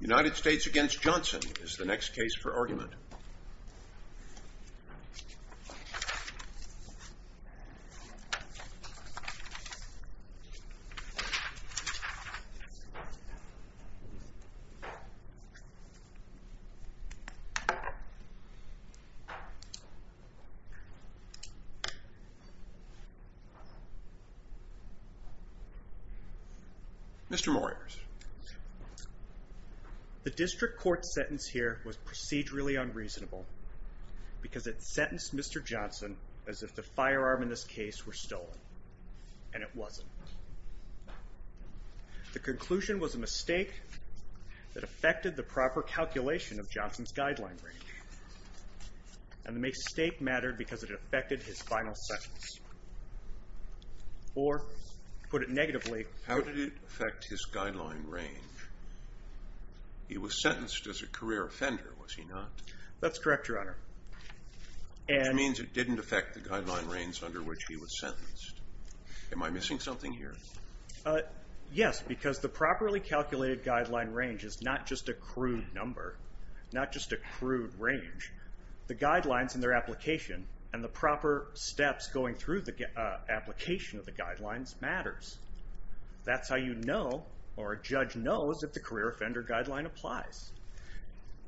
United States v. Johnson is the next case for argument. The District Court's sentence here was procedurally unreasonable because it sentenced Mr. Johnson as if the firearm in this case were stolen, and it wasn't. The conclusion was a mistake that affected the proper calculation of Johnson's guideline range, and the mistake mattered because it affected his final sentence, or, to put it negatively... How did it affect his guideline range? He was sentenced as a career offender, was he not? That's correct, Your Honor. Which means it didn't affect the guideline range under which he was sentenced. Am I missing something here? Yes, because the properly calculated guideline range is not just a crude number, not just a crude range. The guidelines and their application, and the proper steps going through the application of the guidelines, matters. That's how you know, or a judge knows, if the career offender guideline applies.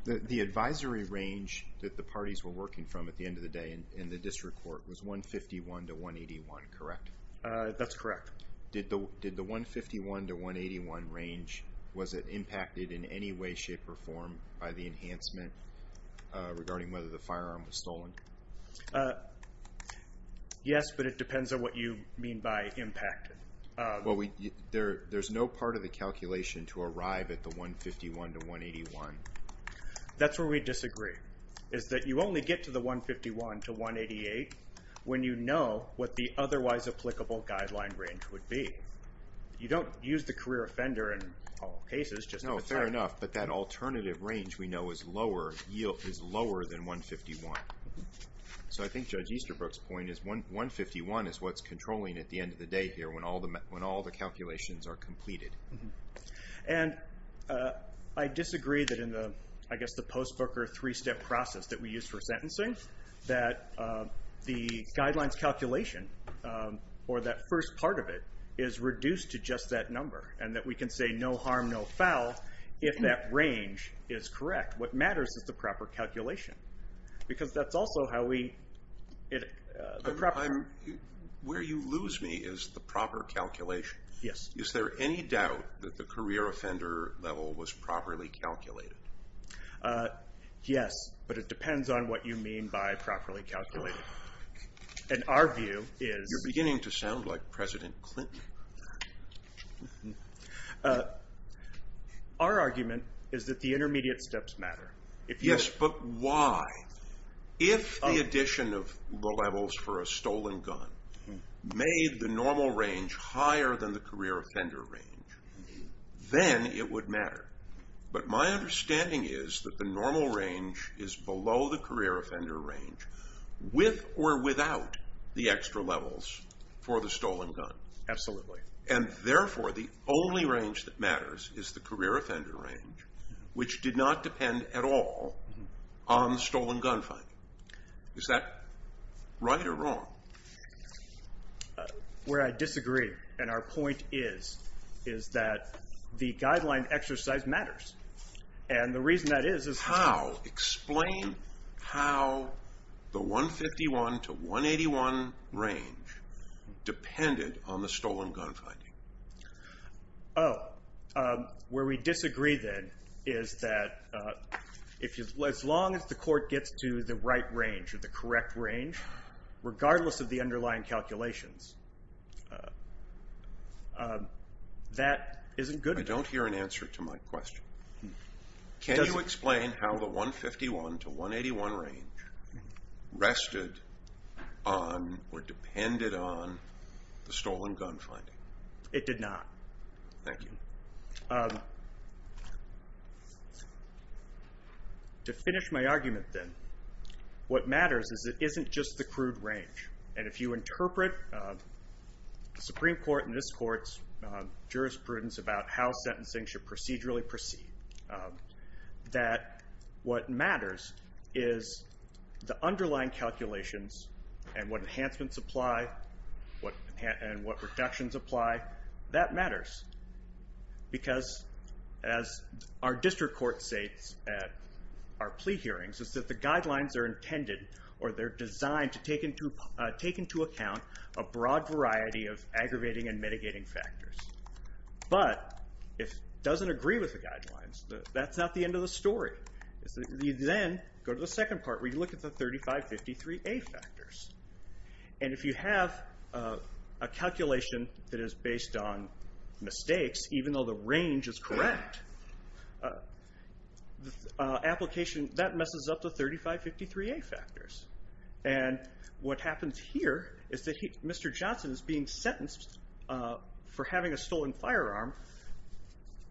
The advisory range that the parties were working from at the end of the day in the District Court was 151 to 181, correct? That's correct. Did the 151 to 181 range, was it impacted in any way, shape, or form by the enhancement regarding whether the firearm was stolen? Yes, but it depends on what you mean by impacted. Well, there's no part of the calculation to arrive at the 151 to 181. That's where we disagree, is that you only get to the 151 to 188 when you know what the otherwise applicable guideline range would be. You don't use the career offender in all cases. No, fair enough, but that alternative range we know is lower than 151. So I think Judge Easterbrook's point is 151 is what's controlling at the end of the day here when all the calculations are completed. And I disagree that in the, I guess the post book or three step process that we use for sentencing, that the guidelines calculation, or that first part of it, is reduced to just that number. And that we can say no harm, no foul, if that range is correct. What matters is the proper calculation, because that's also how we, the proper. Where you lose me is the proper calculation. Yes. Is there any doubt that the career offender level was properly calculated? Yes, but it depends on what you mean by properly calculated. And our view is. You're beginning to sound like President Clinton. Our argument is that the intermediate steps matter. Yes, but why? If the addition of the levels for a stolen gun made the normal range higher than the career offender range, then it would matter. But my understanding is that the normal range is below the career offender range, with or without the extra levels for the stolen gun. Absolutely. And therefore, the only range that matters is the career offender range, which did not depend at all on the stolen gun finding. Is that right or wrong? Where I disagree, and our point is, is that the guideline exercise matters. And the reason that is. How? Explain how the 151 to 181 range depended on the stolen gun finding. Oh, where we disagree, then, is that as long as the court gets to the right range, or the correct range, regardless of the underlying calculations, that isn't good. I don't hear an answer to my question. Can you explain how the 151 to 181 range rested on or depended on the stolen gun finding? It did not. Thank you. To finish my argument, then, what matters is it isn't just the crude range. And if you interpret the Supreme Court and this court's jurisprudence about how sentencing should procedurally proceed, that what matters is the underlying calculations and what enhancements apply and what reductions apply. That matters because, as our district court states at our plea hearings, is that the guidelines are intended or they're designed to take into account a broad variety of aggravating and mitigating factors. But if it doesn't agree with the guidelines, that's not the end of the story. You then go to the second part where you look at the 3553A factors. And if you have a calculation that is based on mistakes, even though the range is correct, that messes up the 3553A factors. And what happens here is that Mr. Johnson is being sentenced for having a stolen firearm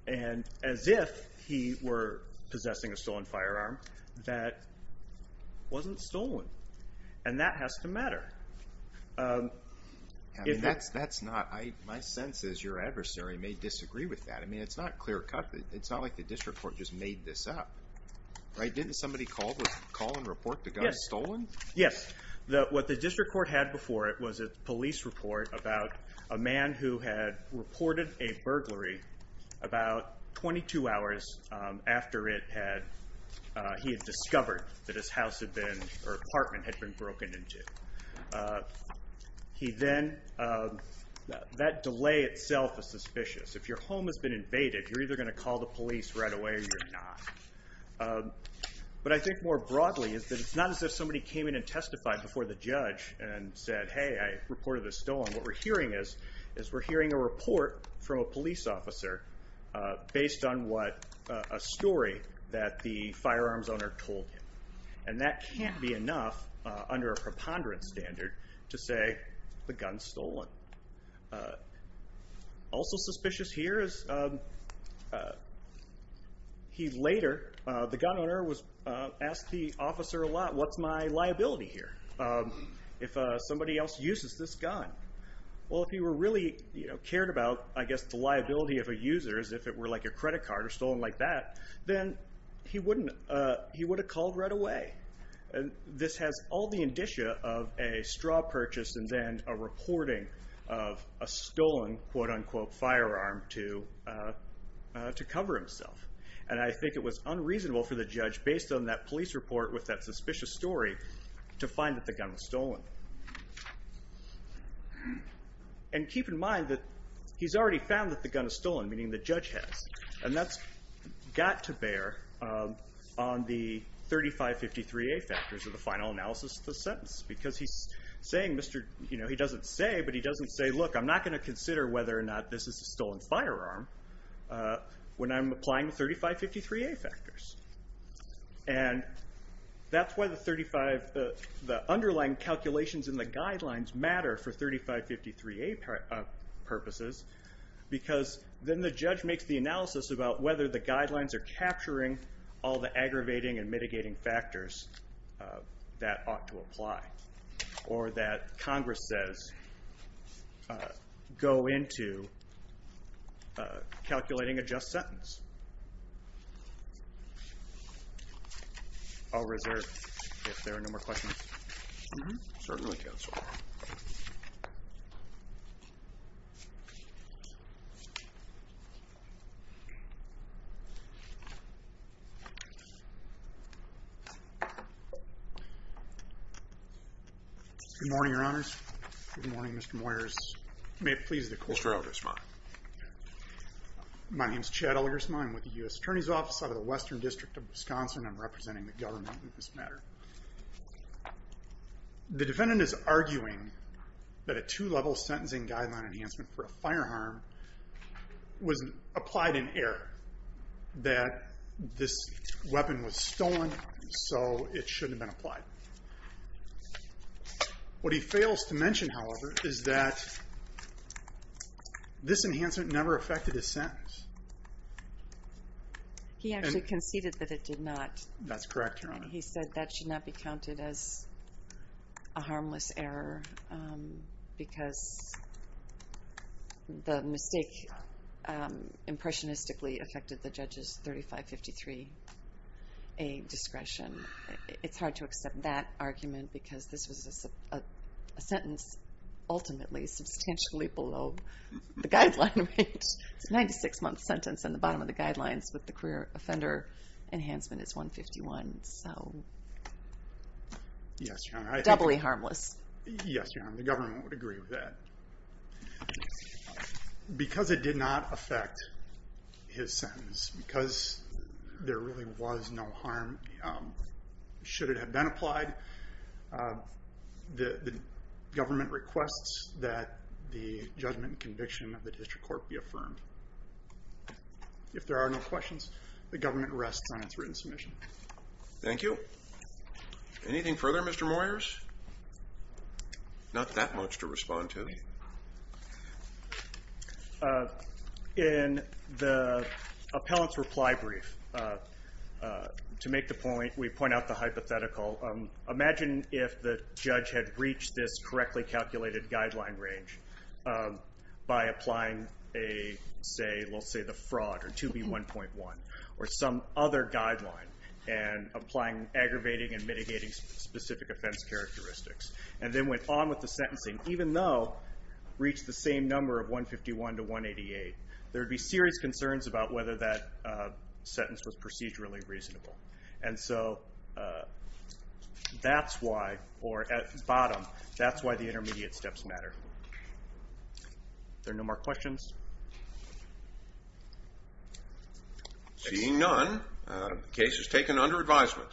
as if he were possessing a stolen firearm that wasn't stolen. And that has to matter. My sense is your adversary may disagree with that. I mean, it's not clear-cut. It's not like the district court just made this up. Didn't somebody call and report the gun stolen? Yes. What the district court had before it was a police report about a man who had reported a burglary about 22 hours after he had discovered that his house or apartment had been broken into. That delay itself is suspicious. If your home has been invaded, you're either going to call the police right away or you're not. But I think more broadly, it's not as if somebody came in and testified before the judge and said, hey, I reported this stolen. What we're hearing is we're hearing a report from a police officer based on a story that the firearms owner told him. And that can't be enough under a preponderance standard to say the gun's stolen. Also suspicious here is he later, the gun owner, asked the officer a lot, what's my liability here if somebody else uses this gun? Well, if he really cared about, I guess, the liability of a user, if it were like a credit card or stolen like that, then he would have called right away. This has all the indicia of a straw purchase and then a reporting of a stolen quote-unquote firearm to cover himself. And I think it was unreasonable for the judge, based on that police report with that suspicious story, to find that the gun was stolen. And keep in mind that he's already found that the gun is stolen, meaning the judge has. And that's got to bear on the 3553A factors of the final analysis of the sentence. Because he's saying, he doesn't say, but he doesn't say, look, I'm not going to consider whether or not this is a stolen firearm when I'm applying the 3553A factors. And that's why the underlying calculations in the guidelines matter for 3553A purposes, because then the judge makes the analysis about whether the guidelines are capturing all the aggravating and mitigating factors that ought to apply, or that Congress says go into calculating a just sentence. I'll reserve if there are no more questions. Certainly, counsel. Thank you. Good morning, Your Honors. Good morning, Mr. Moyers. May it please the Court. Mr. Elgersma. My name's Chad Elgersma. I'm with the U.S. Attorney's Office out of the Western District of Wisconsin. I'm representing the government in this matter. The defendant is arguing that a two-level sentencing guideline enhancement for a firearm was applied in error, that this weapon was stolen, so it shouldn't have been applied. What he fails to mention, however, is that this enhancement never affected his sentence. He actually conceded that it did not. That's correct, Your Honor. He said that should not be counted as a harmless error because the mistake impressionistically affected the judge's 3553A discretion. It's hard to accept that argument because this was a sentence ultimately substantially below the guideline range. It's a 96-month sentence, and the bottom of the guidelines with the career offender enhancement is 151. Yes, Your Honor. Doubly harmless. Yes, Your Honor. The government would agree with that. Because it did not affect his sentence, because there really was no harm, should it have been applied, the government requests that the judgment and conviction of the District Court be affirmed. If there are no questions, the government rests on its written submission. Thank you. Anything further, Mr. Moyers? Not that much to respond to. In the appellant's reply brief, to make the point, we point out the hypothetical. Imagine if the judge had reached this correctly calculated guideline range by applying, let's say, the fraud or 2B1.1 or some other guideline and applying aggravating and mitigating specific offense characteristics and then went on with the sentencing, even though reached the same number of 151 to 188, there would be serious concerns about whether that sentence was procedurally reasonable. And so that's why, or at the bottom, that's why the intermediate steps matter. Are there no more questions? Seeing none, the case is taken under advisement.